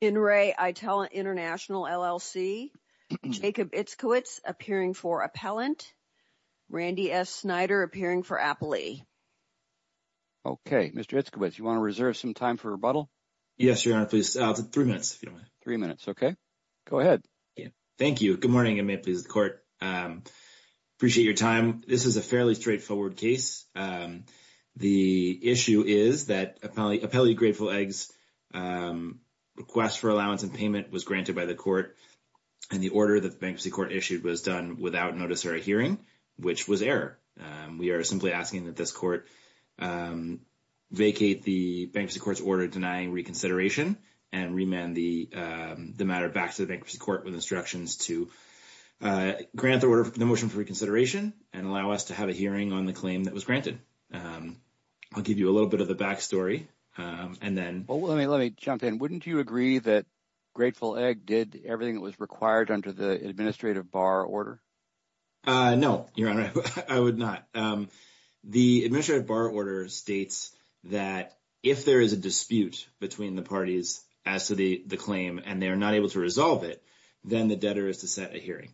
In re Itella International LLC, Jacob Itzkiewicz appearing for appellant, Randy S. Snyder appearing for appellee. Okay, Mr. Itzkiewicz, you want to reserve some time for rebuttal? Yes, your honor, please. 3 minutes. 3 minutes. Okay. Go ahead. Thank you. Good morning, and may it please the court. Appreciate your time. This is a fairly straightforward case. The issue is that appellee Grateful Eggs request for allowance and payment was granted by the court, and the order that the Bankruptcy Court issued was done without notice or a hearing, which was error. We are simply asking that this court vacate the Bankruptcy Court's order denying reconsideration and remand the matter back to the Bankruptcy Court with instructions to grant the order for the motion for reconsideration and allow us to have a hearing on the claim that was granted. I'll give you a little bit of the back story and then. Well, let me jump in. Wouldn't you agree that Grateful Egg did everything that was required under the administrative bar order? No, your honor, I would not. The administrative bar order states that if there is a dispute between the parties as to the claim, and they are not able to resolve it, then the debtor is to set a hearing.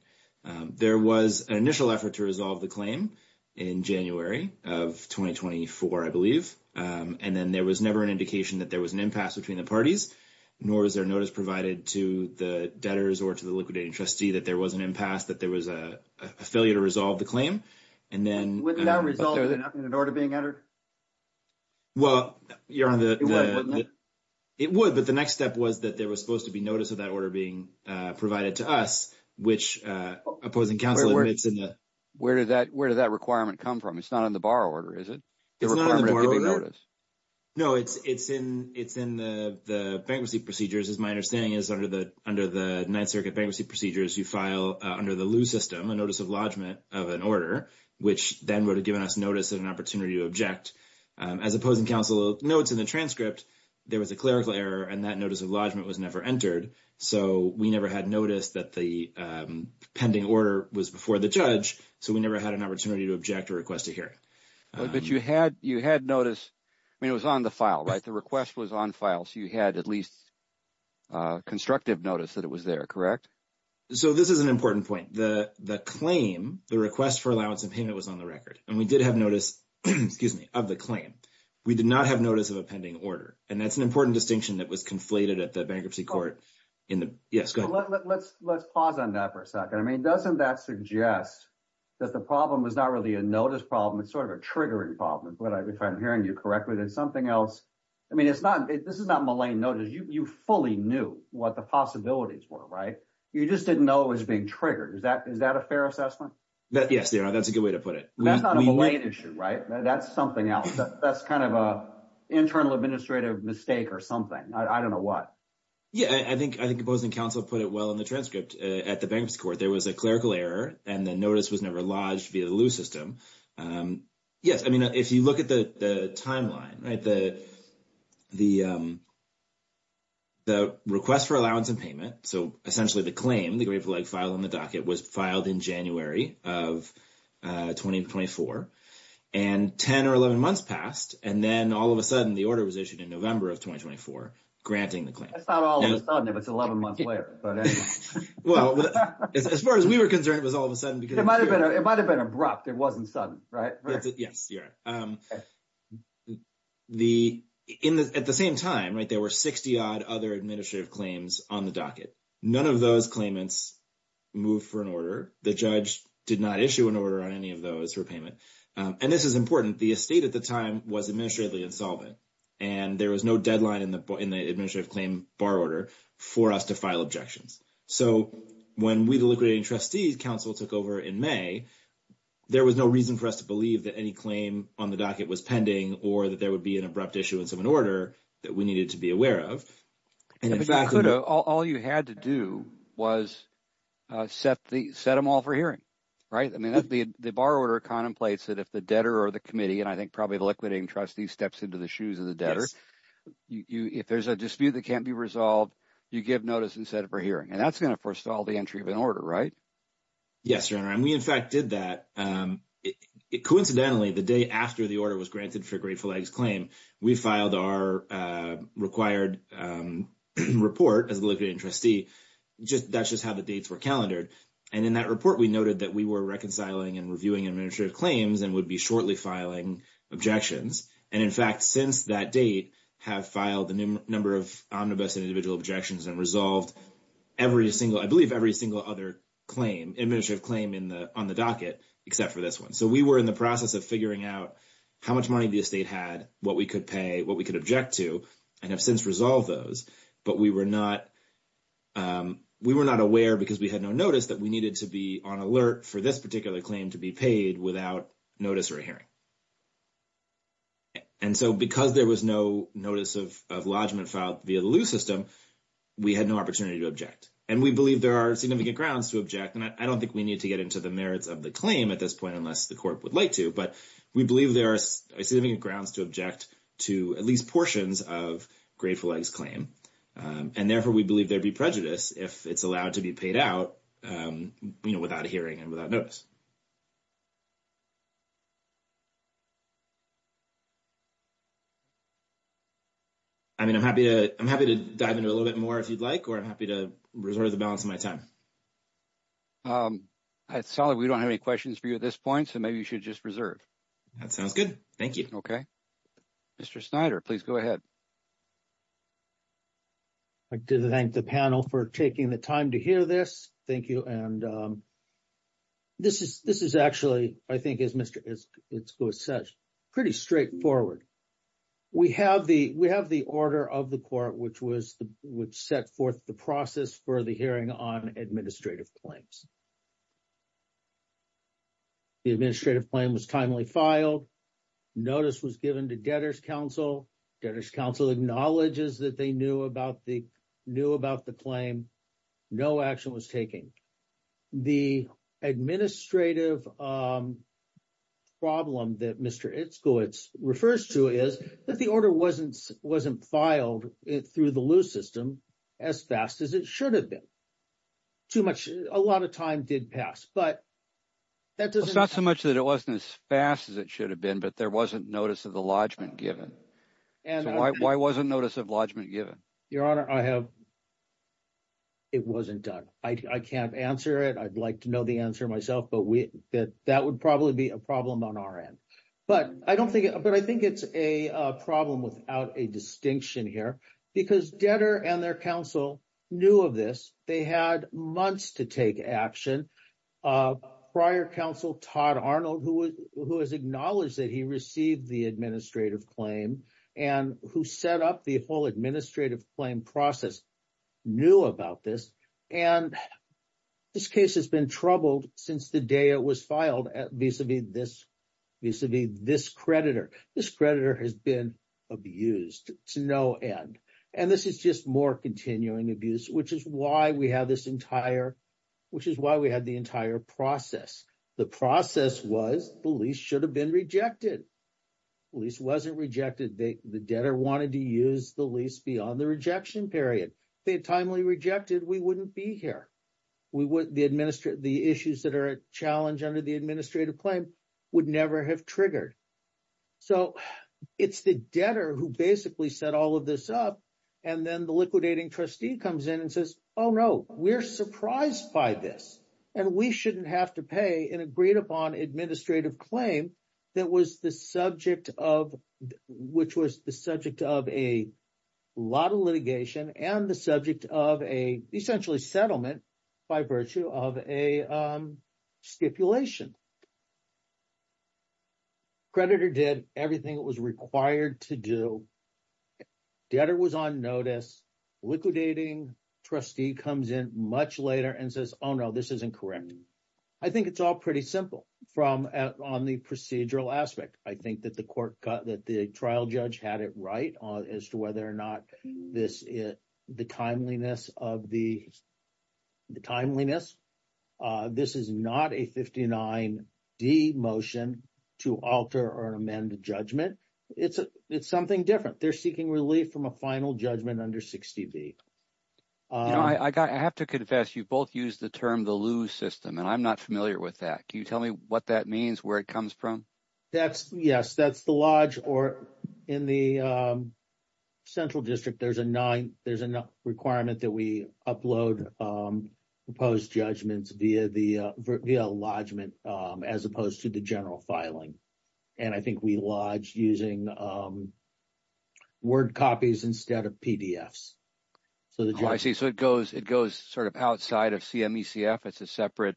There was an initial effort to resolve the claim in January of 2024, I believe, and then there was never an indication that there was an impasse between the parties, nor is there notice provided to the debtors or to the liquidating trustee that there was an impasse, that there was a failure to resolve the claim. And then. Would that result in an order being entered? Well, your honor, it would, but the next step was that there was supposed to be notice of that order being provided to us, which opposing counsel admits in the. Where did that requirement come from? It's not in the bar order, is it? It's not in the bar order? No, it's in the bankruptcy procedures, as my understanding is, under the Ninth Circuit bankruptcy procedures, you file under the lieu system a notice of lodgment of an order, which then would have given us notice and an opportunity to object. As opposing counsel notes in the transcript, there was a clerical error and that notice of lodgment was never entered. So we never had noticed that the pending order was before the judge, so we never had an opportunity to object or request a hearing. But you had notice, I mean, it was on the file, right? The request was on file, so you had at least constructive notice that it was there, correct? So this is an important point. The claim, the request for allowance and payment was on the record and we did have notice, excuse me, of the claim. We did not have notice of a pending order and that's an important distinction that was conflated at the bankruptcy court. Yes, go ahead. Let's pause on that for a second. I mean, doesn't that suggest that the problem was not really a notice problem, it's sort of a triggering problem, if I'm hearing you correctly. There's something else. I mean, it's not, this is not malign notice. You fully knew what the possibilities were, right? You just didn't know it was being triggered. Is that a fair assessment? Yes, that's a good way to put it. That's not a malign issue, right? That's something else. That's kind of an internal administrative mistake or something. I don't know what. Yeah, I think opposing counsel put it well in the transcript at the bankruptcy court. There was a clerical error and the notice was never lodged via the lewis system. Yes, I mean, if you look at the timeline, right, the request for allowance and payment. So essentially the claim, the grade four leg file on the docket was filed in January of 2024. And 10 or 11 months passed. And then all of a sudden the order was issued in November of 2024, granting the claim. That's not all of a sudden if it's 11 months later. Well, as far as we were concerned, it was all of a sudden. It might have been abrupt. It wasn't sudden, right? Yes, you're right. At the same time, right, there were 60 odd other administrative claims on the docket. None of those claimants moved for an order. The judge did not issue an order on any of those for payment. And this is important. The estate at the time was administratively insolvent. And there was no deadline in the administrative claim bar order for us to file objections. So when we, the liquidating trustees, counsel took over in May, there was no reason for us to believe that any claim on the docket was pending or that there would be an abrupt issuance of an order that we needed to be aware of. All you had to do was set them all for hearing, right? The bar order contemplates that if the debtor or the committee, and I think probably the liquidating trustee, steps into the shoes of the debtor, if there's a dispute that can't be resolved, you give notice and set it for hearing. And that's going to forestall the entry of an order, right? Yes, Your Honor. And we, in fact, did that. Coincidentally, the day after the order was granted for Grateful Egg's claim, we filed our required report as the liquidating trustee. That's just how the dates were calendared. And in that report, we noted that we were reconciling and reviewing administrative claims and would be shortly filing objections. And, in fact, since that date, have filed a number of omnibus and individual objections and resolved every single, I believe, every single other administrative claim on the docket, except for this one. So we were in the process of figuring out how much money the estate had, what we could pay, what we could object to, and have since resolved those. But we were not aware, because we had no notice, that we needed to be on alert for this particular claim to be paid without notice or hearing. And so because there was no notice of lodgment filed via the lease system, we had no opportunity to object. And we believe there are significant grounds to object. And I don't think we need to get into the merits of the claim at this point, unless the court would like to. But we believe there are significant grounds to object to at least portions of Grateful Egg's claim. And, therefore, we believe there'd be prejudice if it's allowed to be paid out, you know, without hearing and without notice. I mean, I'm happy to dive into it a little bit more if you'd like, or I'm happy to reserve the balance of my time. All right. Solid. We don't have any questions for you at this point. So maybe you should just reserve. That sounds good. Thank you. Okay. Mr. Snyder, please go ahead. I'd like to thank the panel for taking the time to hear this. Thank you. And this is actually, I think, as Mr. Isko said, pretty straightforward. We have the order of the court, which set forth the process for the hearing on administrative claims. The administrative claim was timely filed. Notice was given to debtors' counsel. Debtors' counsel acknowledges that they knew about the claim. No action was taken. The administrative problem that Mr. Iskowitz refers to is that the order wasn't filed through the loose system as fast as it should have been. Too much – a lot of time did pass, but that doesn't – It's not so much that it wasn't as fast as it should have been, but there wasn't notice of the lodgment given. So why wasn't notice of lodgment given? Your Honor, I have – it wasn't done. I can't answer it. I'd like to know the answer myself, but that would probably be a problem on our end. But I don't think – but I think it's a problem without a distinction here because debtor and their counsel knew of this. They had months to take action. Prior counsel, Todd Arnold, who has acknowledged that he received the administrative claim and who set up the whole administrative claim process, knew about this. And this case has been troubled since the day it was filed vis-a-vis this creditor. This creditor has been abused to no end. And this is just more continuing abuse, which is why we have this entire – which is why we have the entire process. The process was the lease should have been rejected. Lease wasn't rejected. The debtor wanted to use the lease beyond the rejection period. If they had timely rejected, we wouldn't be here. The issues that are a challenge under the administrative claim would never have triggered. So it's the debtor who basically set all of this up. And then the liquidating trustee comes in and says, oh, no, we're surprised by this. And we shouldn't have to pay an agreed-upon administrative claim that was the subject of – which was the subject of a lot of litigation and the subject of a, essentially, settlement by virtue of a stipulation. Creditor did everything it was required to do. Debtor was on notice. Liquidating trustee comes in much later and says, oh, no, this isn't correct. I think it's all pretty simple from – on the procedural aspect. I think that the court – that the trial judge had it right as to whether or not this – the timeliness of the – the timeliness. This is not a 59D motion to alter or amend the judgment. It's something different. They're seeking relief from a final judgment under 60B. I got – I have to confess, you both used the term the loo system, and I'm not familiar with that. Can you tell me what that means, where it comes from? That's – yes, that's the lodge or in the central district, there's a nine – there's a requirement that we upload proposed judgments via the – via a lodgement as opposed to the general filing. And I think we lodge using word copies instead of PDFs. Oh, I see. So it goes – it goes sort of outside of CMECF. It's a separate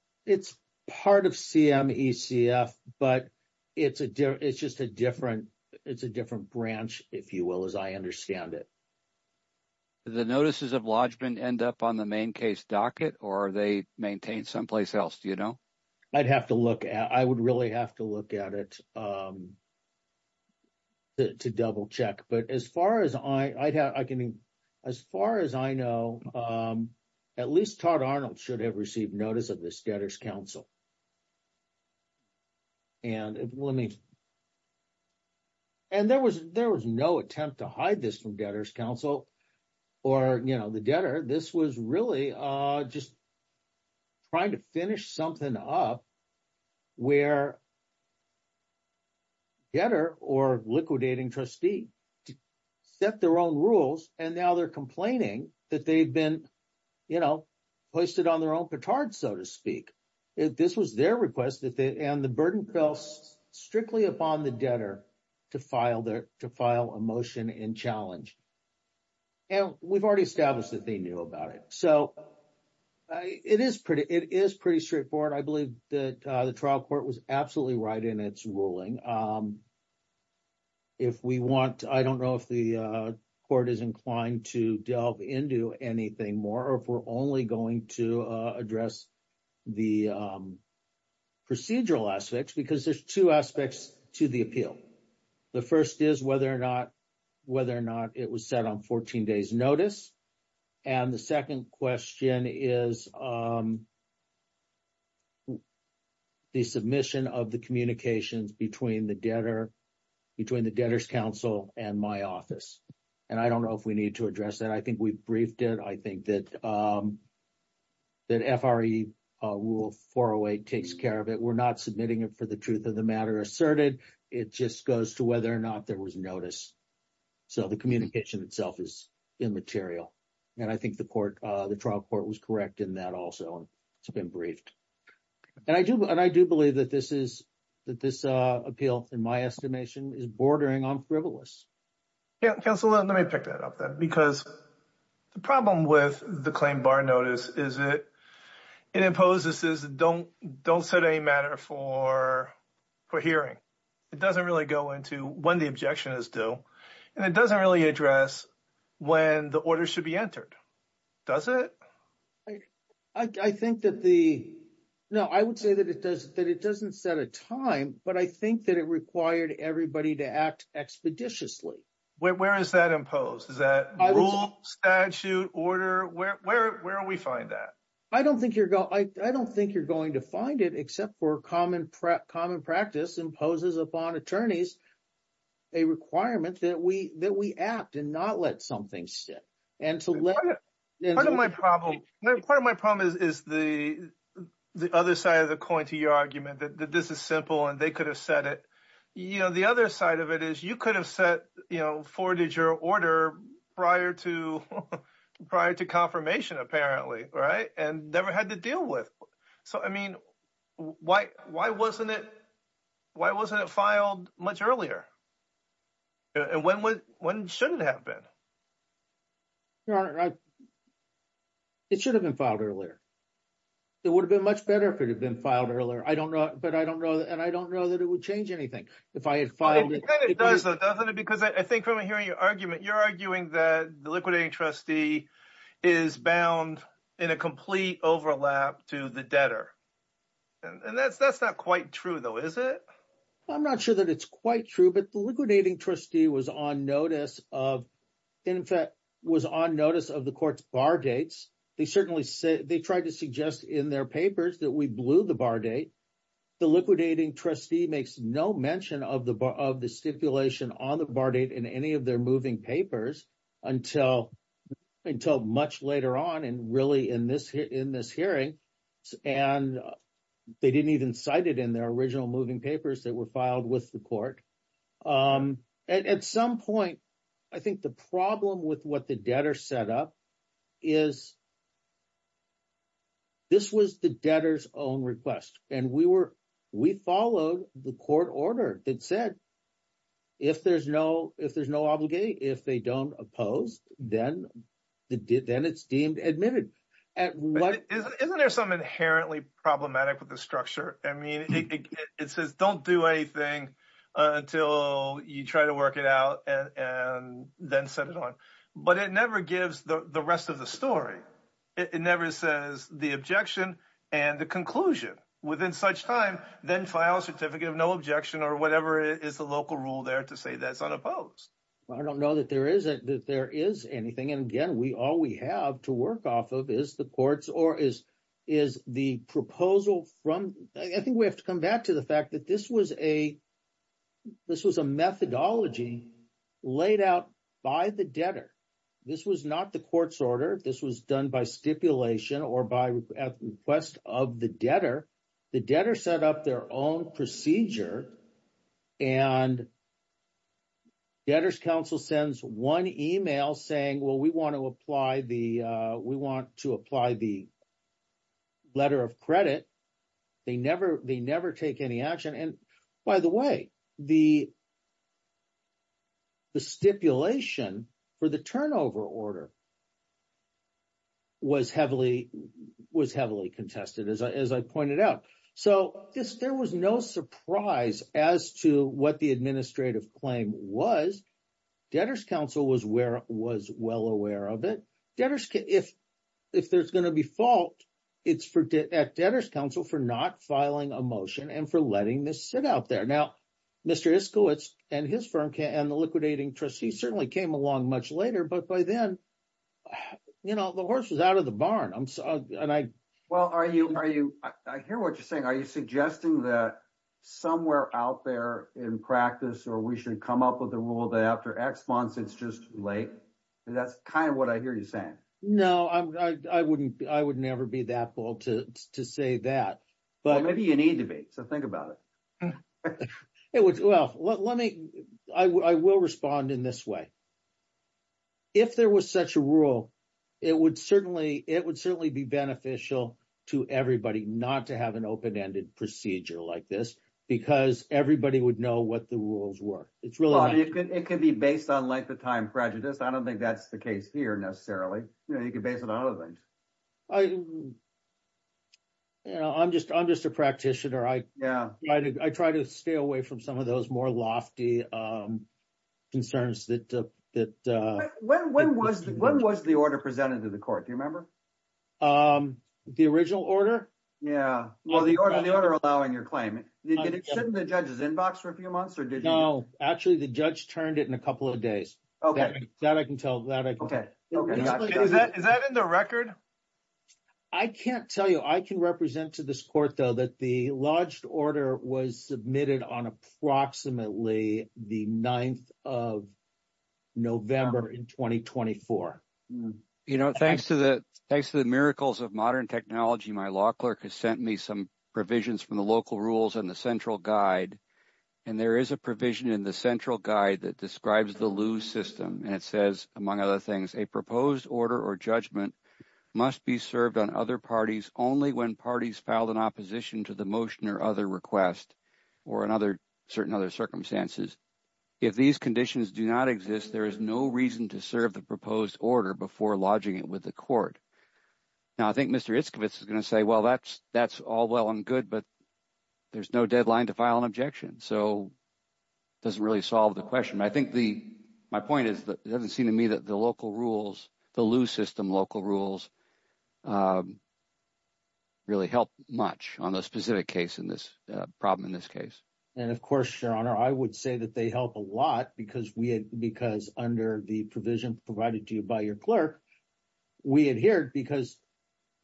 – It's part of CMECF, but it's a – it's just a different – it's a different branch, if you will, as I understand it. The notices of lodgement end up on the main case docket or are they maintained someplace else? Do you know? I'd have to look at – I would really have to look at it to double check. But as far as I – I can – as far as I know, at least Todd Arnold should have received notice of this debtor's counsel. And let me – and there was – there was no attempt to hide this from debtor's counsel or, you know, the debtor. This was really just trying to finish something up where debtor or liquidating trustee set their own rules. And now they're complaining that they've been, you know, hoisted on their own petard, so to speak. This was their request that they – and the burden fell strictly upon the debtor to file their – to file a motion in challenge. And we've already established that they knew about it. So it is pretty – it is pretty straightforward. I believe that the trial court was absolutely right in its ruling. If we want – I don't know if the court is inclined to delve into anything more or if we're only going to address the procedural aspects because there's two aspects to the appeal. The first is whether or not – whether or not it was set on 14 days notice. And the second question is the submission of the communications between the debtor – between the debtor's counsel and my office. And I don't know if we need to address that. I think we've briefed it. I think that FRE Rule 408 takes care of it. We're not submitting it for the truth of the matter asserted. It just goes to whether or not there was notice. So the communication itself is immaterial. And I think the court – the trial court was correct in that also. It's been briefed. And I do – and I do believe that this is – that this appeal, in my estimation, is bordering on frivolous. Yeah, counsel, let me pick that up then because the problem with the claim bar notice is it imposes – don't set any matter for hearing. It doesn't really go into when the objection is due. And it doesn't really address when the order should be entered, does it? I think that the – no, I would say that it doesn't set a time, but I think that it required everybody to act expeditiously. Where is that imposed? Is that rule, statute, order? Where do we find that? I don't think you're – I don't think you're going to find it except for common practice imposes upon attorneys a requirement that we act and not let something sit. Part of my problem – part of my problem is the other side of the coin to your argument that this is simple and they could have set it. The other side of it is you could have set – forwarded your order prior to confirmation apparently and never had to deal with. So I mean why wasn't it – why wasn't it filed much earlier? And when should it have been? It should have been filed earlier. It would have been much better if it had been filed earlier. I don't know – but I don't know – and I don't know that it would change anything if I had filed it. It kind of does though, doesn't it? Because I think from hearing your argument, you're arguing that the liquidating trustee is bound in a complete overlap to the debtor. And that's not quite true though, is it? I'm not sure that it's quite true, but the liquidating trustee was on notice of – in fact, was on notice of the court's bar dates. They certainly said – they tried to suggest in their papers that we blew the bar date. The liquidating trustee makes no mention of the stipulation on the bar date in any of their moving papers until much later on and really in this hearing. And they didn't even cite it in their original moving papers that were filed with the court. At some point, I think the problem with what the debtor set up is this was the debtor's own request. And we were – we followed the court order that said if there's no – if there's no obligate, if they don't oppose, then it's deemed admitted. Isn't there something inherently problematic with the structure? I mean, it says don't do anything until you try to work it out and then set it on. But it never gives the rest of the story. It never says the objection and the conclusion. Within such time, then file a certificate of no objection or whatever is the local rule there to say that's unopposed. I don't know that there is anything. And again, all we have to work off of is the courts or is the proposal from – I think we have to come back to the fact that this was a methodology laid out by the debtor. This was not the court's order. This was done by stipulation or by request of the debtor. The debtor set up their own procedure and debtor's counsel sends one email saying, well, we want to apply the – we want to apply the letter of credit. They never take any action. And by the way, the stipulation for the turnover order was heavily contested, as I pointed out. So there was no surprise as to what the administrative claim was. Debtor's counsel was well aware of it. Debtor's – if there's going to be fault, it's at debtor's counsel for not filing a motion and for letting this sit out there. Now, Mr. Iskowitz and his firm and the liquidating trustee certainly came along much later. But by then, the horse was out of the barn. And I – Well, are you – I hear what you're saying. Are you suggesting that somewhere out there in practice or we should come up with a rule that after X months, it's just late? That's kind of what I hear you saying. No, I wouldn't – I would never be that bold to say that. Well, maybe you need to be. So think about it. Well, let me – I will respond in this way. If there was such a rule, it would certainly – it would certainly be beneficial to everybody not to have an open-ended procedure like this because everybody would know what the rules were. Well, it could be based on length of time prejudice. I don't think that's the case here necessarily. You could base it on other things. I – I'm just a practitioner. I try to stay away from some of those more lofty concerns that – When was the order presented to the court? Do you remember? The original order? Yeah. Well, the order allowing your claim. Did it sit in the judge's inbox for a few months or did you – No. Actually, the judge turned it in a couple of days. That I can tell. That I can tell. Is that in the record? I can't tell you. I can represent to this court, though, that the lodged order was submitted on approximately the 9th of November in 2024. Thanks to the miracles of modern technology, my law clerk has sent me some provisions from the local rules and the central guide. And there is a provision in the central guide that describes the lieu system. And it says, among other things, a proposed order or judgment must be served on other parties only when parties filed an opposition to the motion or other request or in other – certain other circumstances. If these conditions do not exist, there is no reason to serve the proposed order before lodging it with the court. Now, I think Mr. Iskovitz is going to say, well, that's all well and good, but there's no deadline to file an objection. So it doesn't really solve the question. But I think the – my point is that it doesn't seem to me that the local rules, the lieu system local rules really help much on the specific case in this – problem in this case. And of course, Your Honor, I would say that they help a lot because we had – because under the provision provided to you by your clerk, we adhered because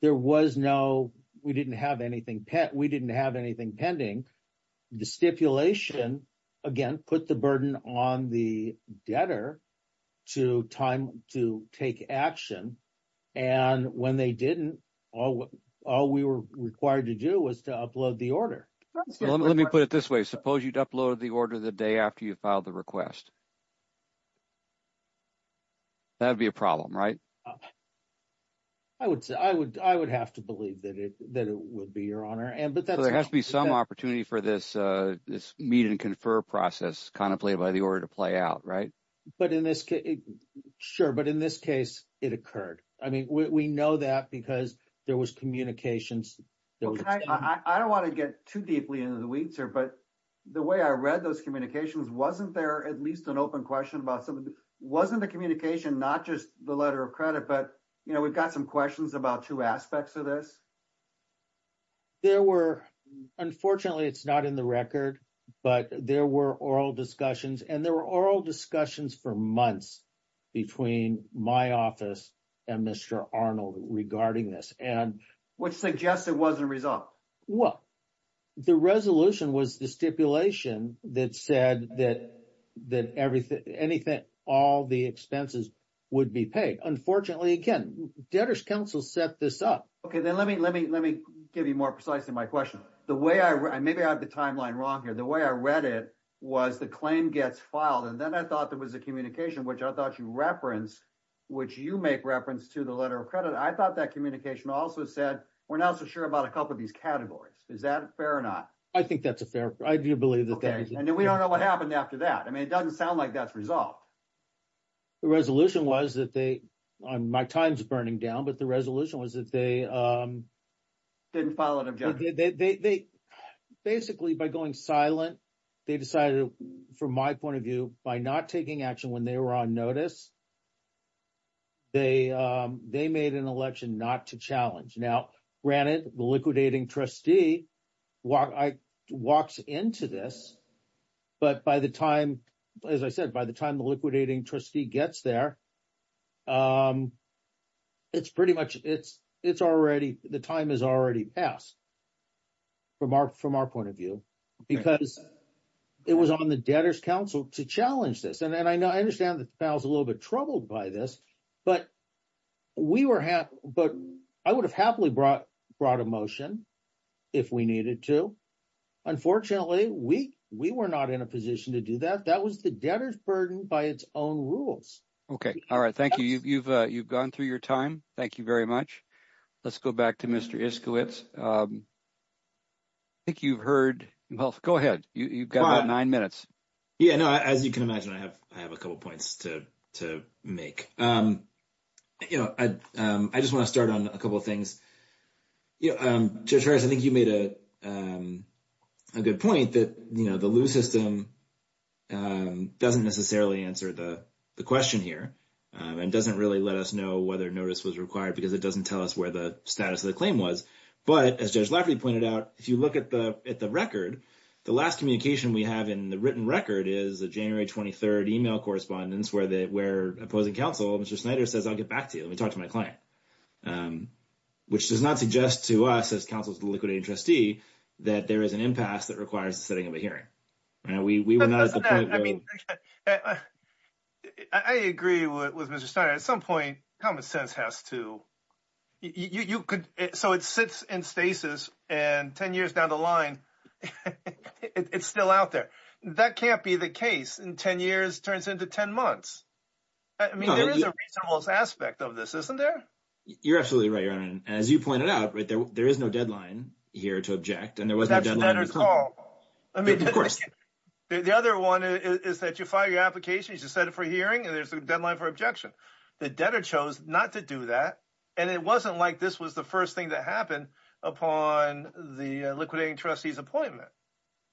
there was no – we didn't have anything – we didn't have anything pending. The stipulation, again, put the burden on the debtor to time to take action. And when they didn't, all we were required to do was to upload the order. Let me put it this way. Suppose you'd upload the order the day after you filed the request. That would be a problem, right? I would say – I would have to believe that it would be, Your Honor. So there has to be some opportunity for this meet and confer process contemplated by the order to play out, right? But in this – sure, but in this case, it occurred. I mean, we know that because there was communications. I don't want to get too deeply into the weeds here, but the way I read those communications, wasn't there at least an open question about some of the – wasn't the communication not just the letter of credit, but, you know, we've got some questions about two aspects of this? There were – unfortunately, it's not in the record, but there were oral discussions, and there were oral discussions for months between my office and Mr. Arnold regarding this. Which suggests it wasn't resolved. Well, the resolution was the stipulation that said that everything – anything – all the expenses would be paid. Unfortunately, again, Debtor's Counsel set this up. Okay, then let me give you more precisely my question. The way I – maybe I have the timeline wrong here. The way I read it was the claim gets filed, and then I thought there was a communication, which I thought you referenced, which you make reference to the letter of credit. I thought that communication also said, we're not so sure about a couple of these categories. Is that fair or not? I think that's a fair – I do believe that that is – Okay, and then we don't know what happened after that. I mean, it doesn't sound like that's resolved. The resolution was that they – my time's burning down, but the resolution was that they – Didn't follow an objective. They – basically, by going silent, they decided, from my point of view, by not taking action when they were on notice, they made an election not to challenge. Now, granted, the liquidating trustee walks into this, but by the time – as I said, by the time the liquidating trustee gets there, it's pretty much – it's already – the time has already passed. From our point of view, because it was on the debtor's counsel to challenge this. And I know – I understand that the panel's a little bit troubled by this, but we were – but I would have happily brought a motion if we needed to. Unfortunately, we were not in a position to do that. That was the debtor's burden by its own rules. Okay. All right. Thank you. You've gone through your time. Thank you very much. Let's go back to Mr. Iskowitz. I think you've heard – well, go ahead. You've got about nine minutes. Yeah, no, as you can imagine, I have a couple points to make. You know, I just want to start on a couple of things. You know, Judge Harris, I think you made a good point that, you know, the lewis system doesn't necessarily answer the question here and doesn't really let us know whether notice was required because it doesn't tell us where the status of the claim was. But as Judge Lafferty pointed out, if you look at the record, the last communication we have in the written record is a January 23rd email correspondence where opposing counsel, Mr. Snyder, says, I'll get back to you. Let me talk to my client. Which does not suggest to us as counsel's liquidating trustee that there is an impasse that requires the setting of a hearing. We were not at the point where – I agree with Mr. Snyder. At some point, common sense has to – you could – so it sits in stasis and 10 years down the line, it's still out there. That can't be the case in 10 years turns into 10 months. I mean, there is a reasonable aspect of this, isn't there? You're absolutely right, Your Honor. And as you pointed out, there is no deadline here to object. That's a debtor's call. I mean, of course. The other one is that you file your application, you set it for a hearing, and there's a deadline for objection. The debtor chose not to do that. And it wasn't like this was the first thing that happened upon the liquidating trustee's appointment.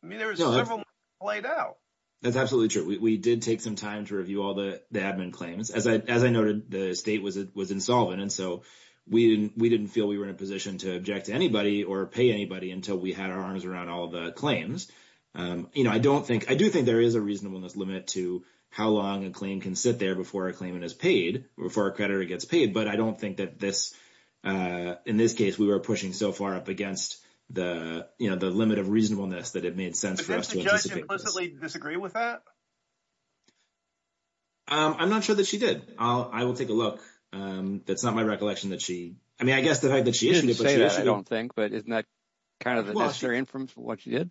I mean, there was several things played out. That's absolutely true. We did take some time to review all the admin claims. As I noted, the state was insolvent, and so we didn't feel we were in a position to object to anybody or pay anybody until we had our arms around all the claims. I do think there is a reasonableness limit to how long a claim can sit there before a claimant is paid, before a creditor gets paid. But I don't think that this – in this case, we were pushing so far up against the limit of reasonableness that it made sense for us to anticipate this. Did she implicitly disagree with that? I'm not sure that she did. I will take a look. That's not my recollection that she – I mean, I guess the fact that she issued it, but she issued it. I don't think. But isn't that kind of the necessary inference for what she did?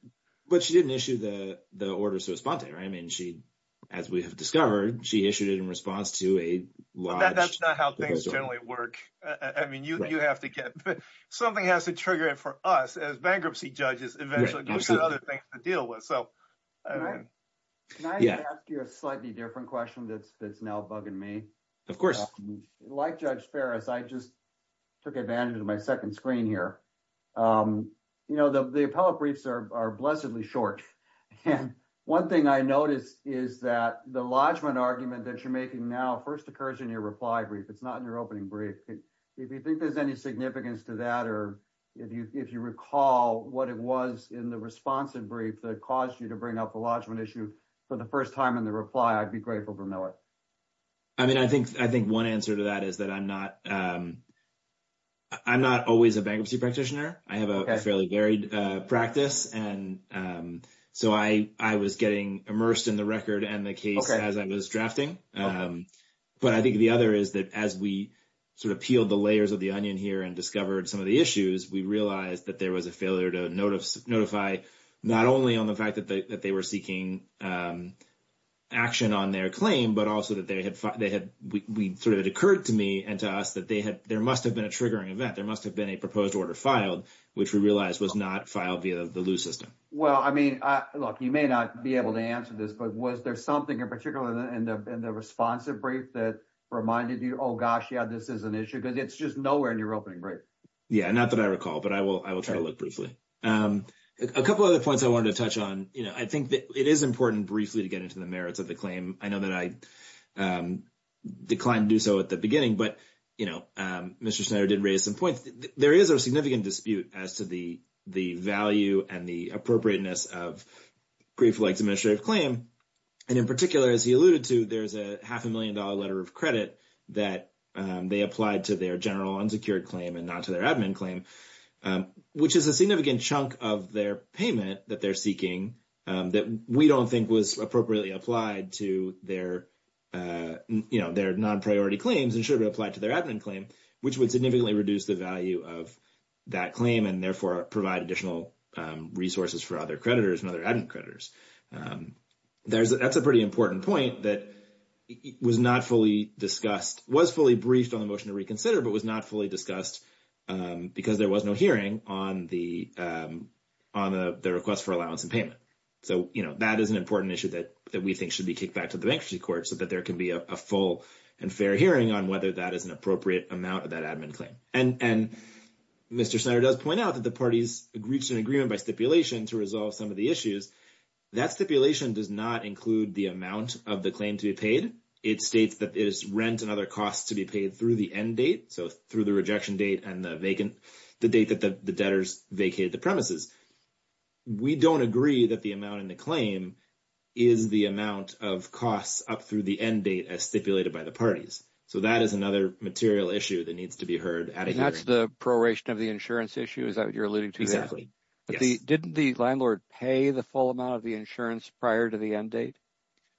But she didn't issue the orders to respond to it, right? I mean, she – as we have discovered, she issued it in response to a large – But that's not how things generally work. I mean, you have to get – something has to trigger it for us as bankruptcy judges eventually. Those are the other things to deal with. Can I ask you a slightly different question that's now bugging me? Of course. Like Judge Ferris, I just took advantage of my second screen here. The appellate briefs are blessedly short. And one thing I noticed is that the lodgement argument that you're making now first occurs in your reply brief. It's not in your opening brief. If you think there's any significance to that or if you recall what it was in the responsive brief that caused you to bring up the lodgement issue for the first time in the reply, I'd be grateful to know it. I mean, I think one answer to that is that I'm not – I'm not always a bankruptcy practitioner. I have a fairly varied practice. And so I was getting immersed in the record and the case as I was drafting. But I think the other is that as we sort of peeled the layers of the onion here and discovered some of the issues, we realized that there was a failure to notify not only on the fact that they were seeking action on their claim, but also that they had – we sort of – it occurred to me and to us that they had – there must have been a triggering event. There must have been a proposed order filed, which we realized was not filed via the loose system. Well, I mean, look, you may not be able to answer this, but was there something in particular in the responsive brief that reminded you, oh, gosh, yeah, this is an issue? Because it's just nowhere in your opening brief. Yeah, not that I recall. But I will try to look briefly. A couple other points I wanted to touch on. You know, I think it is important briefly to get into the merits of the claim. I know that I declined to do so at the beginning. But, you know, Mr. Schneider did raise some points. There is a significant dispute as to the value and the appropriateness of brief-like administrative claim. And in particular, as he alluded to, there's a half-a-million-dollar letter of credit that they applied to their general unsecured claim and not to their admin claim, which is a significant chunk of their payment that they're seeking that we don't think was appropriately applied to their, you know, their non-priority claims and should have applied to their admin claim, which would significantly reduce the value of that claim and, therefore, provide additional resources for other creditors and other admin creditors. That's a pretty important point that was not fully discussed, was fully briefed on the motion to reconsider, but was not fully discussed because there was no hearing on the request for allowance and payment. So, you know, that is an important issue that we think should be kicked back to the Bankruptcy Court so that there can be a full and fair hearing on whether that is an appropriate amount of that admin claim. And Mr. Schneider does point out that the parties reached an agreement by stipulation to resolve some of the issues. That stipulation does not include the amount of the claim to be paid. It states that it is rent and other costs to be paid through the end date, so through the rejection date and the vacant, the date that the debtors vacated the premises. We don't agree that the amount in the claim is the amount of costs up through the end date as stipulated by the parties. So that is another material issue that needs to be heard at a hearing. And that's the proration of the insurance issue, is that what you're alluding to? Exactly, yes. But didn't the landlord pay the full amount of the insurance prior to the end date?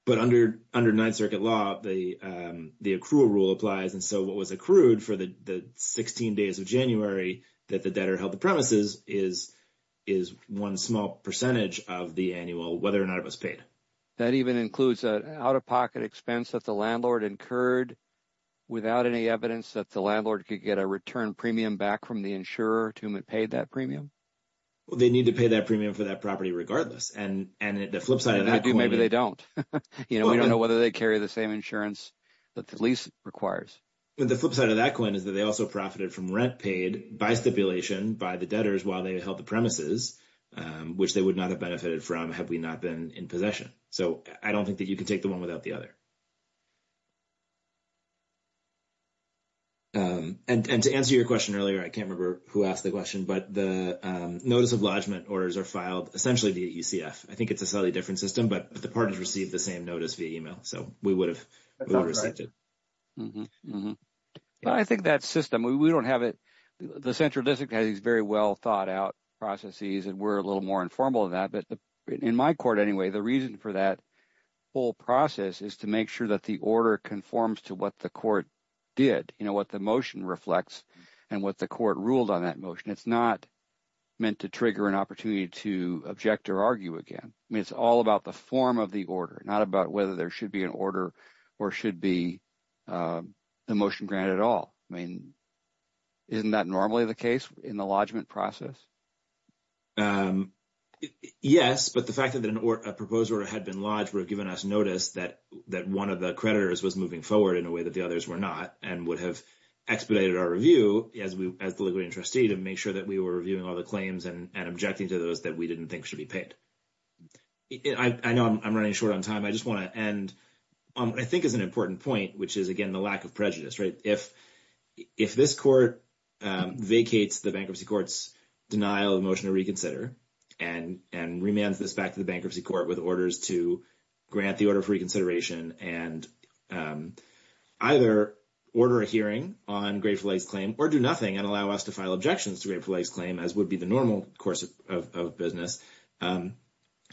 But under Ninth Circuit law, the accrual rule applies. And so what was accrued for the 16 days of January that the debtor held the premises is one small percentage of the annual, whether or not it was paid. That even includes an out-of-pocket expense that the landlord incurred without any evidence that the landlord could get a return premium back from the insurer to whom it paid that premium? Well, they need to pay that premium for that property regardless. And the flip side of that coin is... Maybe they don't. We don't know whether they carry the same insurance that the lease requires. But the flip side of that coin is that they also profited from rent paid by stipulation by the debtors while they held the premises, which they would not have benefited from had we not been in possession. So I don't think that you can take the one without the other. And to answer your question earlier, I can't remember who asked the question, but the notice of lodgment orders are filed essentially via UCF. I think it's a slightly different system, but the parties receive the same notice via email. So we would have received it. But I think that system, we don't have it. The central district has these very well-thought-out processes, and we're a little more informal than that. But in my court anyway, the reason for that whole process is to make sure that the order conforms to what the court did, what the motion reflects and what the court ruled on that motion. It's not meant to trigger an opportunity to object or argue again. I mean it's all about the form of the order, not about whether there should be an order or should be the motion granted at all. I mean isn't that normally the case in the lodgment process? Yes, but the fact that a proposed order had been lodged would have given us notice that one of the creditors was moving forward in a way that the others were not and would have expedited our review as the Ligurian trustee to make sure that we were reviewing all the claims and objecting to those that we didn't think should be paid. I know I'm running short on time. I just want to end on what I think is an important point, which is, again, the lack of prejudice. If this court vacates the bankruptcy court's denial of motion to reconsider and remands this back to the bankruptcy court with orders to grant the order for reconsideration and either order a hearing on Grateful Egg's claim or do nothing and allow us to file objections to Grateful Egg's claim as would be the normal course of business,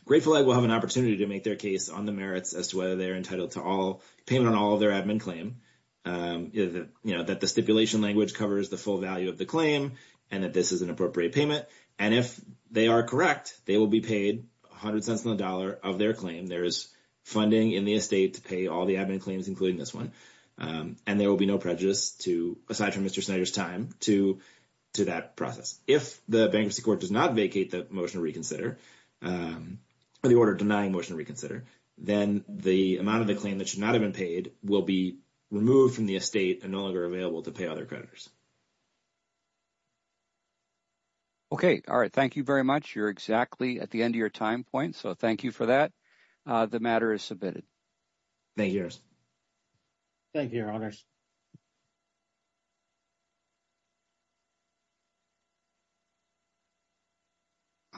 Grateful Egg will have an opportunity to make their case on the merits as to whether they're entitled to payment on all of their admin claim. That the stipulation language covers the full value of the claim and that this is an appropriate payment. And if they are correct, they will be paid 100 cents on the dollar of their claim. There is funding in the estate to pay all the admin claims, including this one. And there will be no prejudice, aside from Mr. Snyder's time, to that process. If the bankruptcy court does not vacate the motion to reconsider or the order denying motion to reconsider, then the amount of the claim that should not have been paid will be removed from the estate and no longer available to pay other creditors. Okay. All right. Thank you very much. You're exactly at the end of your time point. So thank you for that. The matter is submitted. Thank you. Thank you, Your Honors. Thank you.